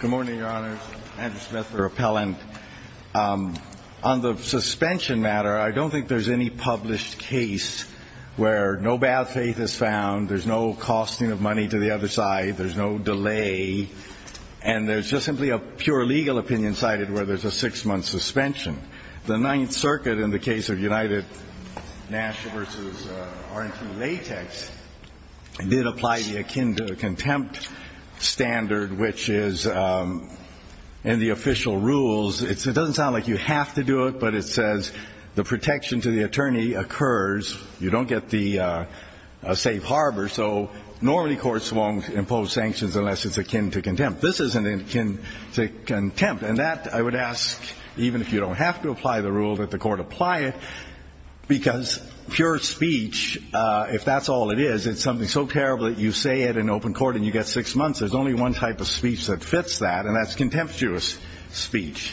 Good morning, your honors. Andrew Smith, the repellent. On the suspension matter, I don't think there's any published case where no bad faith is found, there's no costing of money to the other side, there's no delay, and there's just simply a pure legal opinion cited where there's a six-month suspension. The Ninth Circuit in the case of United National v. R&T Latex did apply the akin to contempt standard, which is in the official rules, it doesn't sound like you have to do it, but it says the protection to the attorney occurs, you don't get the safe harbor, so normally courts won't impose sanctions unless it's akin to contempt. This isn't akin to contempt, and that I would ask even if you don't have to apply the rule that the court apply it, because pure speech, if that's all it is, it's something so terrible that you say it in open court and you get six months, there's only one type of speech that fits that, and that's contemptuous speech.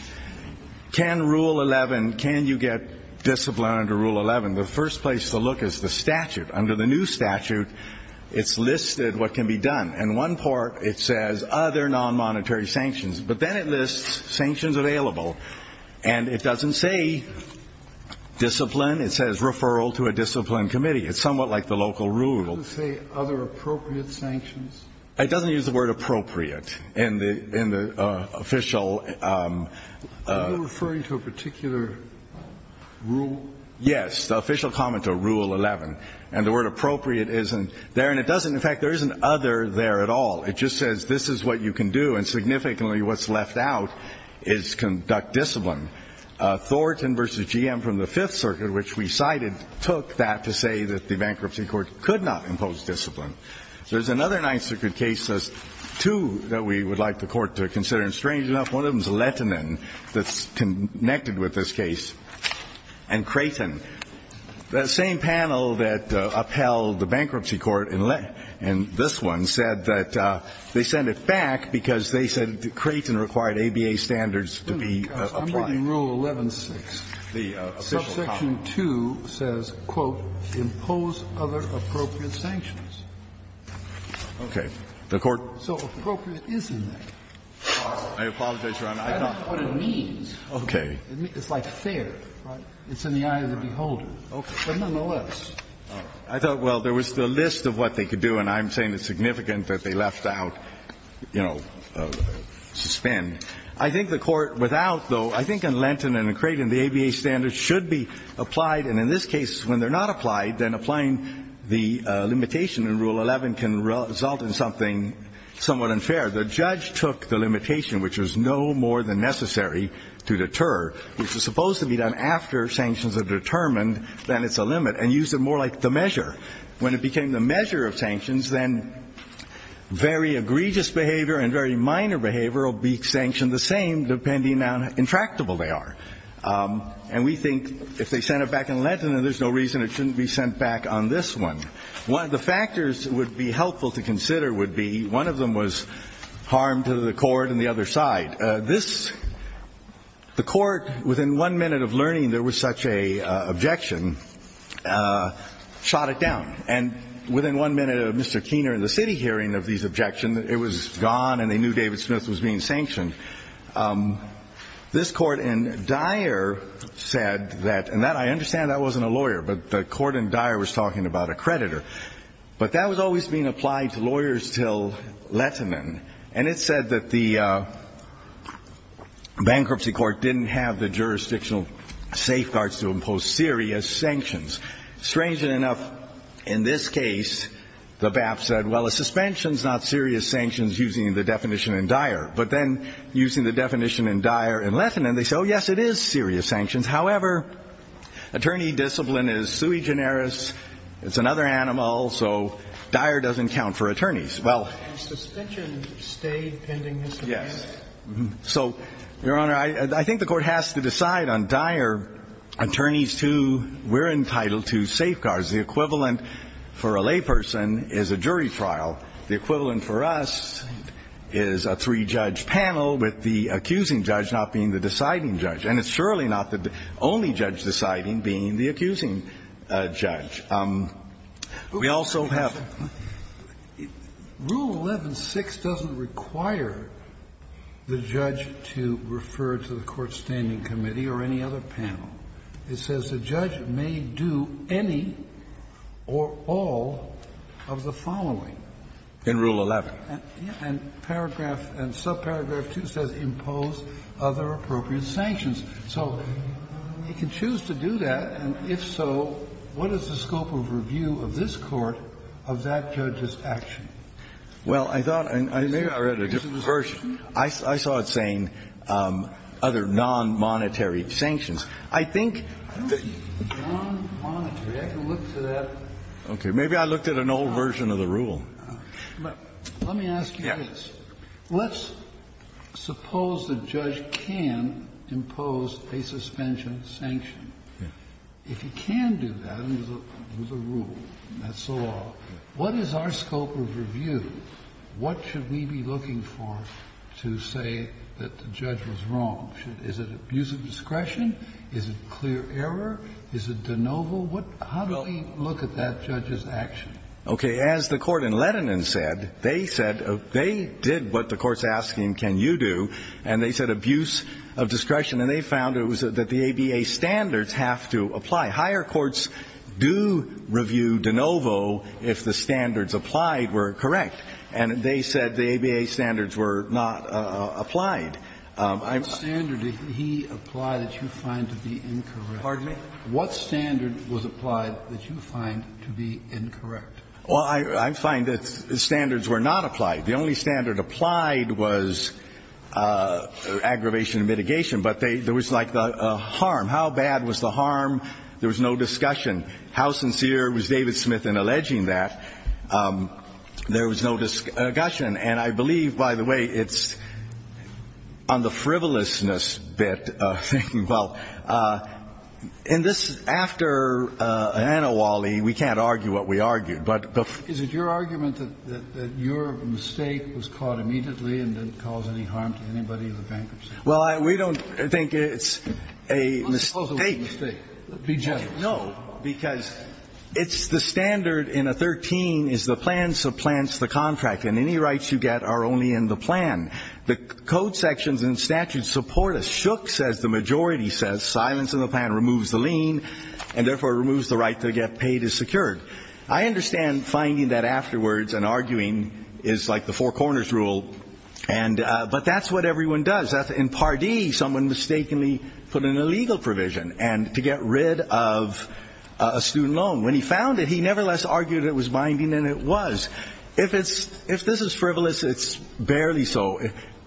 Can Rule 11, can you get discipline under Rule 11? The first place to look is the statute. Under the new statute, it's listed what can be done. In one part, it says other non-monetary sanctions, but then it lists sanctions available, and it doesn't say discipline, it says referral to a discipline committee, it's somewhat like the local rule. Kennedy, it doesn't say other appropriate sanctions? It doesn't use the word appropriate in the official rule. Yes, the official comment to Rule 11, and the word appropriate isn't there, and it doesn't in fact, there isn't other there at all. It just says this is what you can do, and significantly what's left out is conduct discipline. Thornton v. GM from the Fifth Circuit, which we cited, took that to say that the bankruptcy court could not impose discipline. There's another Ninth Circuit case, two that we would like the Court to consider, and strange enough, one of them is Lettinen that's connected with this case, and Creighton. The same panel that upheld the bankruptcy court in this one said that they sent it back because they said Creighton required ABA standards to be applied. In Rule 11.6, subsection 2 says, quote, impose other appropriate sanctions. Okay. The Court So appropriate is in there. I apologize, Your Honor. I thought. That's not what it means. Okay. It's like fair, right? It's in the eye of the beholder. Okay. But nonetheless. I thought, well, there was the list of what they could do, and I'm saying it's significant that they left out, you know, suspend. I think the Court, without, though, I think in Lenten and Creighton, the ABA standards should be applied, and in this case, when they're not applied, then applying the limitation in Rule 11 can result in something somewhat unfair. The judge took the limitation, which was no more than necessary to deter, which is supposed to be done after sanctions are determined, then it's a limit, and used it more like the measure. When it became the measure of sanctions, then very egregious behavior and very And we think if they sent it back in Lenten, then there's no reason it shouldn't be sent back on this one. One of the factors would be helpful to consider would be one of them was harm to the court and the other side. This the court, within one minute of learning there was such a objection, shot it down, and within one minute of Mr. Keener and the city hearing of these objections, it was gone, and they knew David Smith was being sanctioned, this court in Dyer said that, and I understand that wasn't a lawyer, but the court in Dyer was talking about a creditor, but that was always being applied to lawyers till Lenten, and it said that the bankruptcy court didn't have the jurisdictional safeguards to impose serious sanctions. Strangely enough, in this case, the BAP said, well, a suspension is not serious sanctions using the definition in Dyer, but then using the definition in Dyer in Lenten, and they said, oh, yes, it is serious sanctions. However, attorney discipline is sui generis, it's another animal, so Dyer doesn't count for attorneys. Well Yes. So, Your Honor, I think the court has to decide on Dyer, attorneys too, we're in title II safeguards. The equivalent for a layperson is a jury trial. The equivalent for us is a three-judge panel with the accusing judge not being the deciding judge, and it's surely not the only judge deciding being the accusing judge. We also have the rule 11-6 doesn't require the judge to refer to the court's standing committee or any other panel. It says the judge may do any or all of the following. In Rule 11. And paragraph and subparagraph 2 says, impose other appropriate sanctions. So you can choose to do that, and if so, what is the scope of review of this court of that judge's action? Well, I thought and maybe I read a different version. I saw it saying other non-monetary sanctions. I think that the non-monetary, I can look to that. Okay. Maybe I looked at an old version of the rule. Let me ask you this. Let's suppose the judge can impose a suspension sanction. If he can do that under the rule, that's so long, what is our scope of review? What should we be looking for to say that the judge was wrong? Is it abuse of discretion? Is it clear error? Is it de novo? What – how do we look at that judge's action? Okay. As the Court in Lehtinen said, they said they did what the Court's asking can you do, and they said abuse of discretion, and they found it was that the ABA standards have to apply. Higher courts do review de novo if the standards applied were correct. And they said the ABA standards were not applied. I'm – What standard did he apply that you find to be incorrect? Pardon me? What standard was applied that you find to be incorrect? Well, I find that standards were not applied. The only standard applied was aggravation and mitigation, but there was like the harm. How bad was the harm? There was no discussion. How sincere was David Smith in alleging that? There was no discussion. And I believe, by the way, it's on the frivolousness bit of thinking, well, in this – after an Anawali, we can't argue what we argued, but the – Is it your argument that your mistake was caught immediately and didn't cause any harm to anybody in the bankruptcy? Well, we don't think it's a mistake. Let's suppose it was a mistake. Be generous. No. Because it's the standard in a 13 is the plan supplants the contract. And any rights you get are only in the plan. The code sections and statutes support us. Shook says the majority says silence in the plan removes the lien, and therefore removes the right to get paid as secured. I understand finding that afterwards and arguing is like the four corners rule, and – but that's what everyone does. In Part D, someone mistakenly put in a legal provision and – to get rid of a student loan. When he found it, he nevertheless argued it was binding, and it was. If it's – if this is frivolous, it's barely so.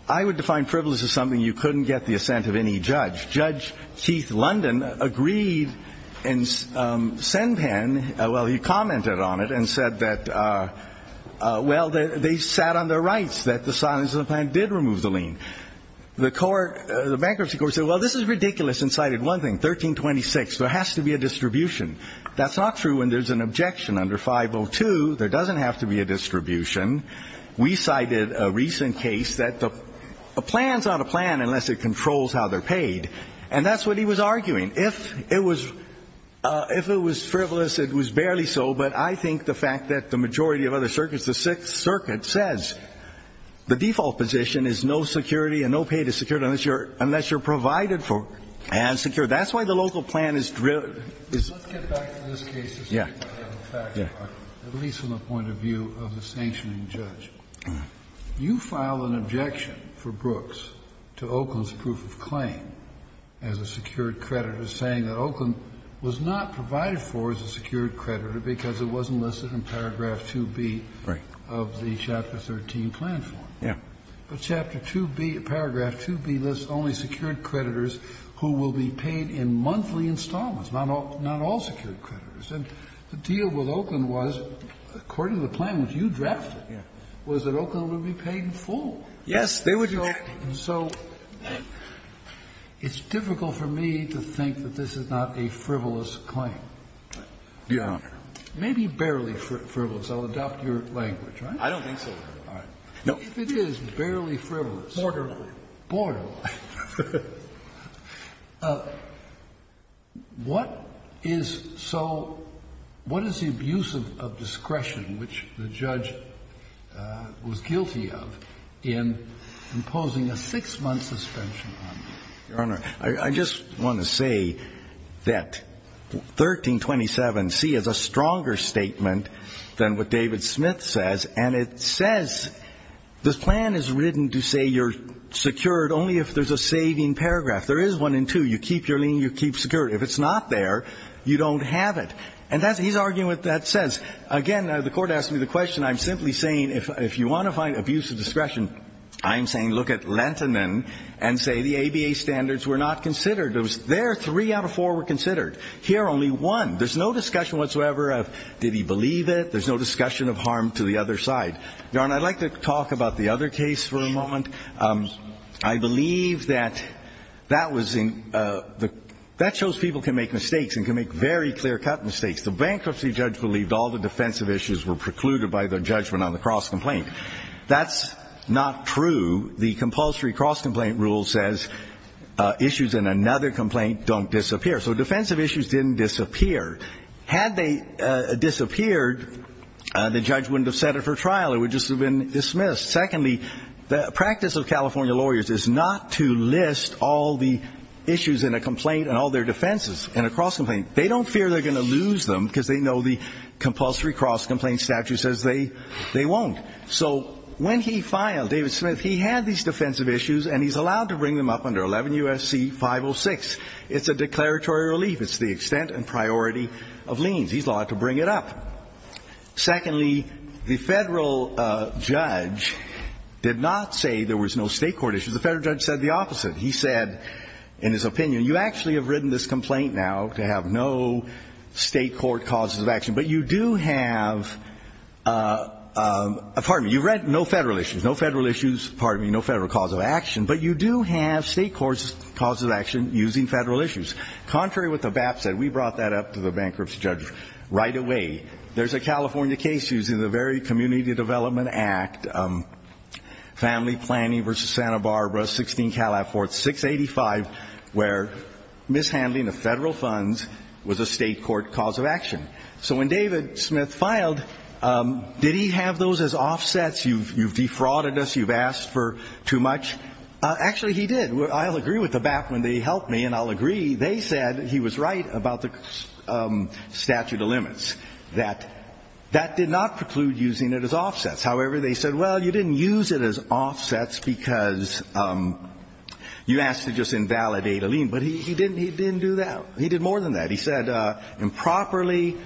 I would define frivolous as something you couldn't get the assent of any judge. Judge Keith London agreed and Senpan – well, he commented on it and said that, well, they sat on their rights, that the silence in the plan did remove the lien. The court – the bankruptcy court said, well, this is ridiculous, and cited one thing, 1326. There has to be a distribution. That's not true when there's an objection under 502. There doesn't have to be a distribution. We cited a recent case that the plan's not a plan unless it controls how they're paid, and that's what he was arguing. If it was – if it was frivolous, it was barely so, but I think the fact that the majority of other circuits, the Sixth Circuit, says the default position is no security and no pay to security unless you're – unless you're provided for and secured. That's why the local plan is – is – Kennedy, in this case, at least from the point of view of the sanctioning judge, you file an objection for Brooks to Oakland's proof of claim as a secured creditor saying that Oakland was not provided for as a secured creditor because it wasn't listed in paragraph 2B of the Chapter 13 plan form. Yeah. But Chapter 2B – paragraph 2B lists only secured creditors who will be paid in monthly installments, not all – not all secured creditors. And the deal with Oakland was, according to the plan which you drafted, was that Oakland would be paid in full. Yes, they would be. And so it's difficult for me to think that this is not a frivolous claim. Your Honor. Maybe barely frivolous. I'll adopt your language, right? I don't think so, Your Honor. All right. No. If it is barely frivolous. Borderline. Borderline. What is so – what is the abuse of discretion which the judge was guilty of in imposing a six-month suspension on me? Your Honor, I just want to say that 1327C is a stronger statement than what David Smith says, and it says – the plan is written to say you're secured only if the re's a saving paragraph. There is one in two. You keep your lien, you keep security. If it's not there, you don't have it. And that's – he's arguing what that says. Again, the court asked me the question. I'm simply saying if you want to find abuse of discretion, I'm saying look at Lenton and say the ABA standards were not considered. It was there, three out of four were considered. Here, only one. There's no discussion whatsoever of did he believe it? There's no discussion of harm to the other side. Your Honor, I'd like to talk about the other case for a moment. I believe that that was in – that shows people can make mistakes and can make very clear-cut mistakes. The bankruptcy judge believed all the defensive issues were precluded by the judgment on the cross-complaint. That's not true. The compulsory cross-complaint rule says issues in another complaint don't disappear. So defensive issues didn't disappear. Had they disappeared, the judge wouldn't have set it for trial. It would just have been dismissed. Secondly, the practice of California lawyers is not to list all the issues in a complaint and all their defenses in a cross-complaint. They don't fear they're going to lose them because they know the compulsory cross-complaint statute says they won't. So when he filed, David Smith, he had these defensive issues and he's allowed to bring them up under 11 U.S.C. 506. It's a declaratory relief. It's the extent and priority of liens. He's allowed to bring it up. Secondly, the federal judge did not say there was no state court issues. The federal judge said the opposite. He said, in his opinion, you actually have written this complaint now to have no state court causes of action, but you do have, pardon me, you've read no federal issues, no federal issues, pardon me, no federal cause of action, but you do have state court causes of action using federal issues. Contrary to what the BAP said, we brought that up to the bankruptcy judge right away. There's a California case using the very Community Development Act, Family Planning v. Santa Barbara, 16 Calif. 4, 685, where mishandling of federal funds was a state court cause of action. So when David Smith filed, did he have those as offsets? You've defrauded us. You've asked for too much. Actually, he did. I'll agree with the BAP when they help me, and I'll agree. They said he was right about the statute of limits, that that did not preclude using it as offsets. However, they said, well, you didn't use it as offsets because you asked to just invalidate a lien, but he didn't do that. He did more than that. He said improperly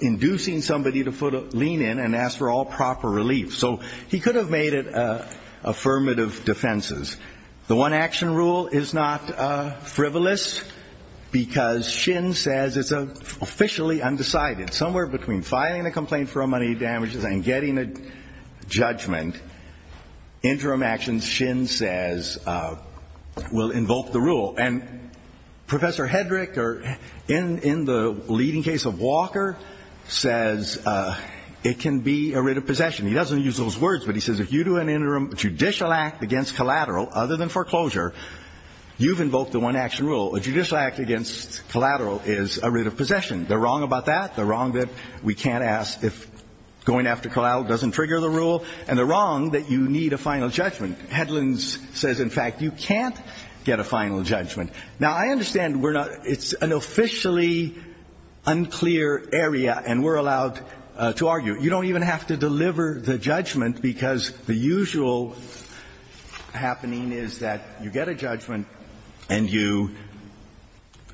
inducing somebody to put a lien in and asked for all proper relief. So he could have made it affirmative defenses. The one-action rule is not frivolous because Shin says it's officially undecided. Somewhere between filing a complaint for a money damages and getting a judgment, interim actions, Shin says, will invoke the rule. And Professor Hedrick, in the leading case of Walker, says it can be a writ of possession. He doesn't use those words, but he says, if you do an interim judicial act against collateral other than foreclosure, you've invoked the one-action rule. A judicial act against collateral is a writ of possession. They're wrong about that. They're wrong that we can't ask if going after collateral doesn't trigger the rule. And they're wrong that you need a final judgment. Hedlunds says, in fact, you can't get a final judgment. Now, I understand it's an officially unclear area, and we're allowed to argue. You don't even have to deliver the judgment because the usual happening is that you get a judgment and you,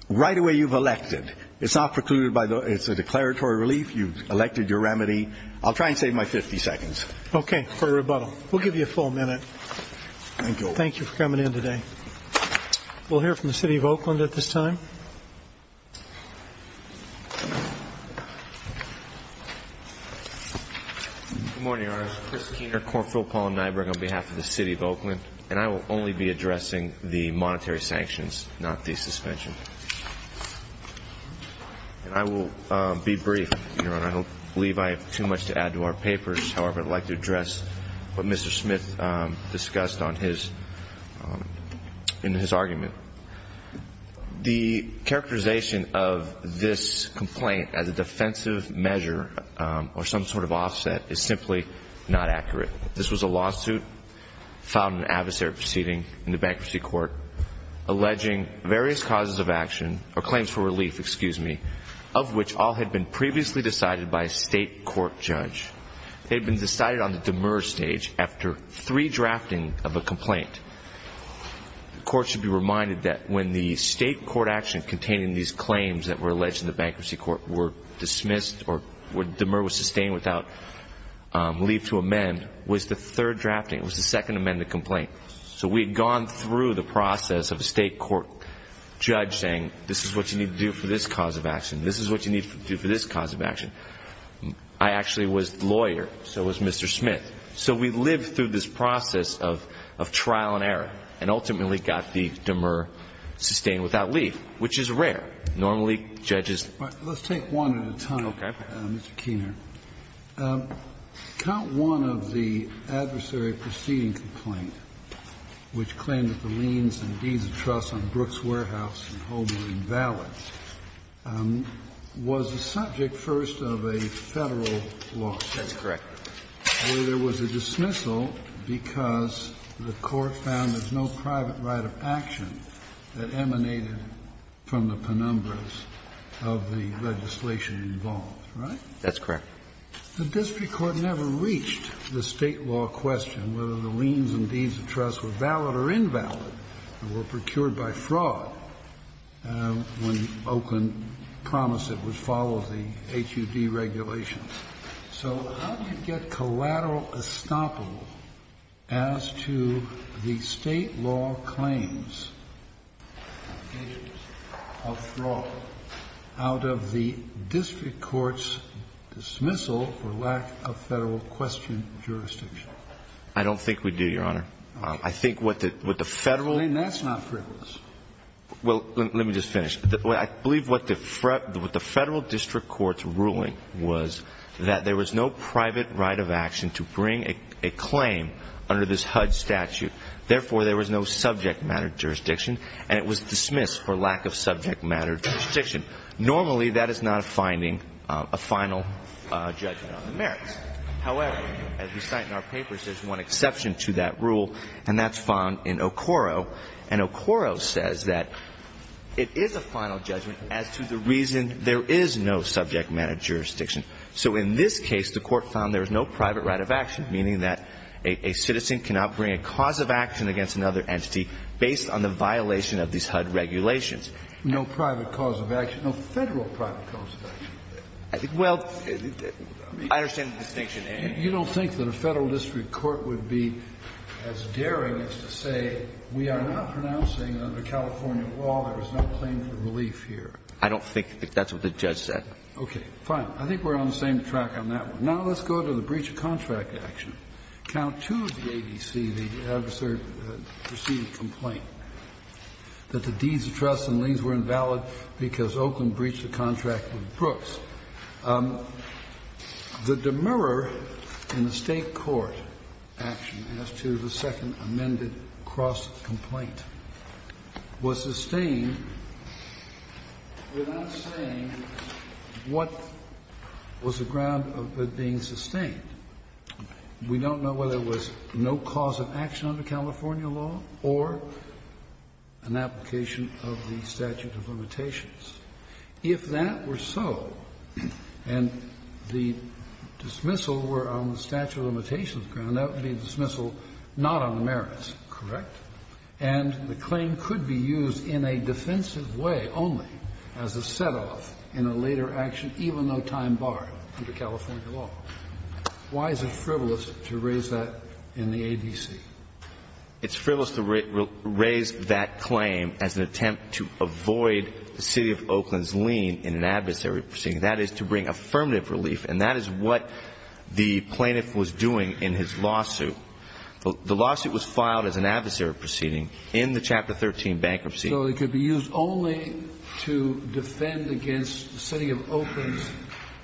right away you've elected. It's not precluded by the, it's a declaratory relief. You've elected your remedy. I'll try and save my 50 seconds. Okay, for rebuttal. We'll give you a full minute. Thank you. Thank you for coming in today. We'll hear from the city of Oakland at this time. Good morning, Your Honor. Chris Keener, Corp Philpolyn Nyberg on behalf of the city of Oakland. And I will only be addressing the monetary sanctions, not the suspension. And I will be brief, Your Honor. I don't believe I have too much to add to our papers. However, I'd like to address what Mr. Smith discussed on his, in his argument. The characterization of this complaint as a defensive measure or some sort of offset is simply not accurate. This was a lawsuit found in an adversary proceeding in the bankruptcy court alleging various causes of action, or claims for relief, excuse me, of which all had been previously decided by a state court judge. They'd been decided on the demur stage after three drafting of a complaint. The court should be reminded that when the state court action containing these claims that were alleged in the bankruptcy court were dismissed or demur was sustained without leave to amend was the third drafting. It was the second amendment complaint. So we'd gone through the process of a state court judge saying, this is what you need to do for this cause of action. This is what you need to do for this cause of action. I actually was lawyer, so was Mr. Smith. So we lived through this process of trial and error, and ultimately got the demur sustained without leave, which is rare. Normally, judges- Kennedy, Mr. Keener, count one of the adversary proceeding complaint, which claimed that the liens and deeds of trust on Brooks Warehouse and Holbrook were invalid, was the subject first of a Federal lawsuit. That's correct. Where there was a dismissal because the court found there's no private right of action that emanated from the penumbras of the legislation involved, right? That's correct. The district court never reached the State law question whether the liens and deeds of trust were valid or invalid and were procured by fraud when Oakland promised it would follow the HUD regulations. So how do you get collateral estoppel as to the State law claims of fraud out of the district court's dismissal for lack of Federal-questioned jurisdiction? I don't think we do, Your Honor. I think what the Federal- Then that's not frivolous. Well, let me just finish. I believe what the Federal district court's ruling was that there was no private right of action to bring a claim under this HUD statute, therefore, there was no subject matter jurisdiction, and it was dismissed for lack of subject matter jurisdiction. Normally, that is not a finding, a final judgment on the merits. However, as we cite in our papers, there's one exception to that rule, and that's found in Okoro. And Okoro says that it is a final judgment as to the reason there is no subject matter jurisdiction. So in this case, the court found there was no private right of action, meaning that a citizen cannot bring a cause of action against another entity based on the violation of these HUD regulations. No private cause of action, no Federal private cause of action. Well, I mean- I understand the distinction, and- You don't think that a Federal district court would be as daring as to say, we are not pronouncing under California law there is no claim for relief here? I don't think that's what the judge said. Okay. Fine. I think we're on the same track on that one. Now let's go to the breach of contract action. Count 2 of the ABC, the adversary's preceding complaint, that the deeds of trust and liens were invalid because Oakland breached a contract with Brooks. The demurrer in the State court action as to the second amended cross-complaint was sustained without saying what was the ground of it being sustained. We don't know whether it was no cause of action under California law or an application of the statute of limitations. If that were so, and the dismissal were on the statute of limitations ground, that would be a dismissal not on the merits, correct? And the claim could be used in a defensive way only as a set-off in a later action, even though time barred under California law. Why is it frivolous to raise that in the ABC? It's frivolous to raise that claim as an attempt to avoid the city of Oakland's lien in an adversary proceeding. That is to bring affirmative relief. And that is what the plaintiff was doing in his lawsuit. The lawsuit was filed as an adversary proceeding in the Chapter 13 bankruptcy. So it could be used only to defend against the city of Oakland's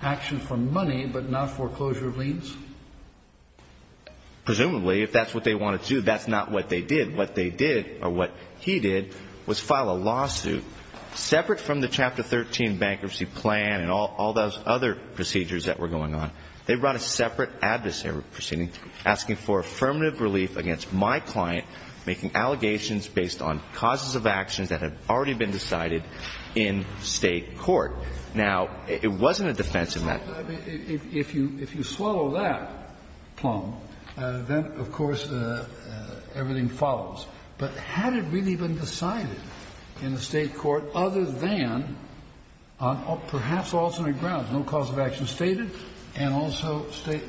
action for money, but not foreclosure of liens? Presumably, if that's what they wanted to do. That's not what they did. What they did, or what he did, was file a lawsuit separate from the Chapter 13 bankruptcy plan and all those other procedures that were going on. They brought a separate adversary proceeding asking for affirmative relief against my client making allegations based on causes of actions that had already been decided in state court. Now, it wasn't a defensive matter. If you swallow that plumb, then, of course, everything follows. But had it really been decided in the state court other than on perhaps alternate grounds, no cause of action stated, and also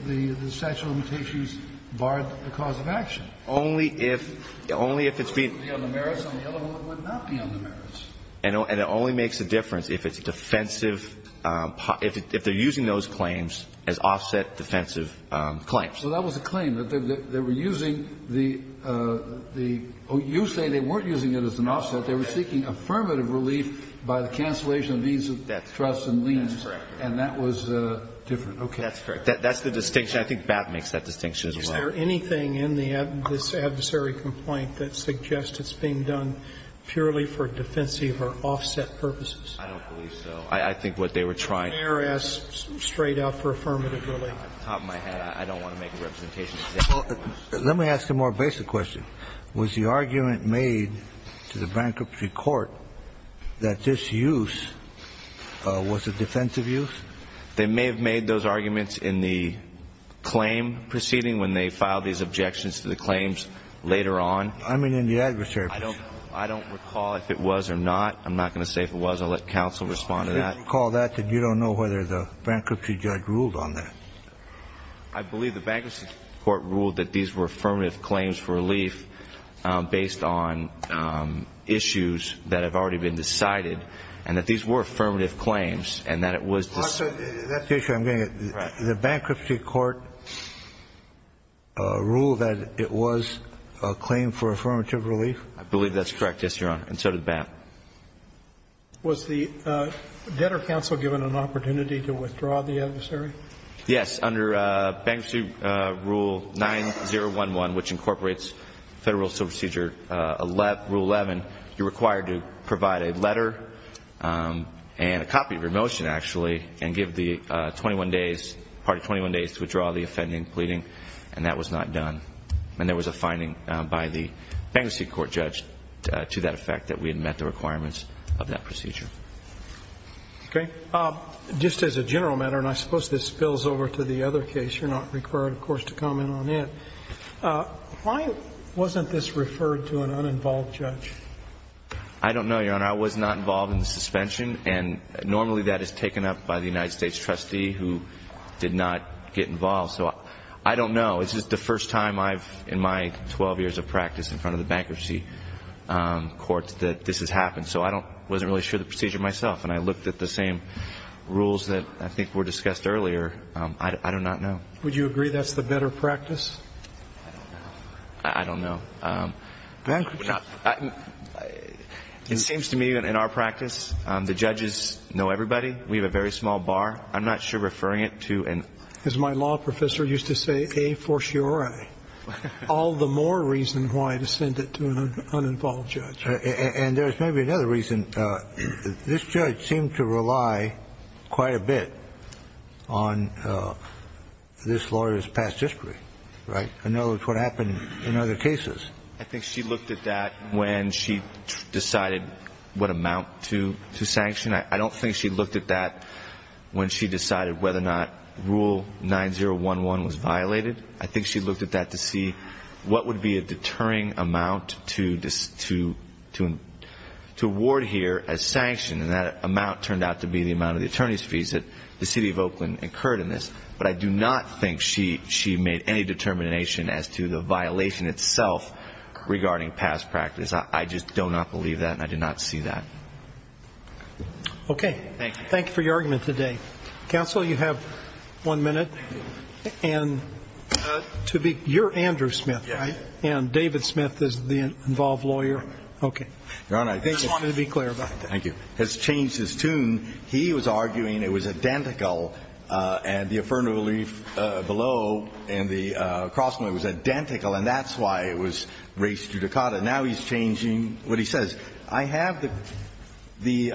the statute of limitations barred the cause of action? Only if it's being unlimited. It would be on the merits, and the other one would not be on the merits. And it only makes a difference if it's a defensive, if they're using those claims as offset defensive claims. So that was a claim, that they were using the, you say they weren't using it as an offset, they were seeking affirmative relief by the cancellation of these trusts and liens, and that was different, okay. That's correct, that's the distinction, I think BAP makes that distinction as well. Is there anything in this adversary complaint that suggests it's being done purely for defensive or offset purposes? I don't believe so. I think what they were trying to do. The mayor asked straight up for affirmative relief. Off the top of my head, I don't want to make a representation. Let me ask a more basic question. Was the argument made to the bankruptcy court that this use was a defensive use? They may have made those arguments in the claim proceeding when they filed these objections to the claims later on. I mean, in the adversary case. I don't recall if it was or not. I'm not going to say if it was. I'll let counsel respond to that. I don't recall that, but you don't know whether the bankruptcy judge ruled on that. I believe the bankruptcy court ruled that these were affirmative claims for relief based on issues that have already been decided, and that these were affirmative claims, and that it was. That's the issue I'm getting at. Correct. The bankruptcy court ruled that it was a claim for affirmative relief? I believe that's correct, yes, Your Honor, and so did BAP. Was the debtor counsel given an opportunity to withdraw the adversary? Yes. Under bankruptcy rule 9011, which incorporates federal supersedure rule 11, you're required to provide a letter and a copy of your motion, actually, and give the party 21 days to withdraw the offending and pleading, and that was not done. And there was a finding by the bankruptcy court judge to that effect that we had met the requirements of that procedure. Okay. Just as a general matter, and I suppose this spills over to the other case, you're not required, of course, to comment on it, why wasn't this referred to an uninvolved judge? I don't know, Your Honor. I was not involved in the suspension, and normally that is taken up by the United States trustee who did not get involved, so I don't know. It's just the first time I've, in my 12 years of practice in front of the bankruptcy courts, that this has happened. So I wasn't really sure of the procedure myself, and I looked at the same rules that I think were discussed earlier. I do not know. Would you agree that's the better practice? I don't know. Bankruptcy. It seems to me that in our practice, the judges know everybody. We have a very small bar. I'm not sure referring it to an- As my law professor used to say, a fortiori. All the more reason why to send it to an uninvolved judge. And there's maybe another reason. This judge seemed to rely quite a bit on this lawyer's past history, right? In other words, what happened in other cases. I think she looked at that when she decided what amount to sanction. I don't think she looked at that when she decided whether or not Rule 9011 was violated. I think she looked at that to see what would be a deterring amount to award here as sanction, and that amount turned out to be the amount of the attorney's fees that the City of Oakland incurred in this. But I do not think she made any determination as to the violation itself regarding past practice. I just do not believe that, and I do not see that. Okay. Thank you for your argument today. Counsel, you have one minute. And to be- you're Andrew Smith, right? And David Smith is the involved lawyer. Okay. Your Honor, I just wanted to be clear about that. Thank you. Has changed his tune. He was arguing it was identical, and the affirmative relief below and the cross-court was identical, and that's why it was raised judicata. Now he's changing what he says. I have the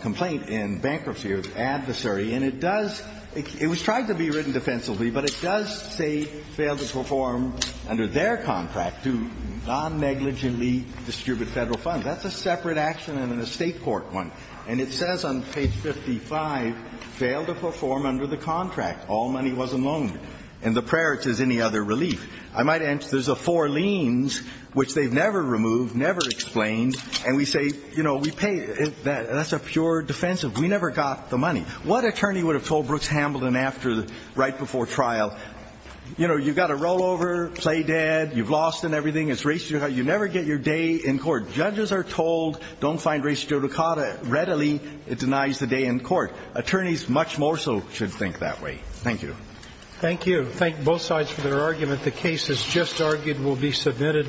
complaint in bankruptcy of the adversary, and it does- it was tried to be written defensively, but it does say fail to perform under their contract to non-negligently distribute Federal funds. That's a separate action and an estate court one. And it says on page 55, fail to perform under the contract. All money was a loan. In the prayer, it says any other relief. I might add, there's a four liens, which they've never removed, never explained. And we say, you know, we pay- that's a pure defensive. We never got the money. What attorney would have told Brooks-Hambleton after the- right before trial, you know, you've got a rollover, play dead, you've lost and everything, it's raised judicata. You never get your day in court. Judges are told don't find raised judicata readily, it denies the day in court. Attorneys much more so should think that way. Thank you. Thank you. Thank both sides for their argument. The case is just argued, will be submitted.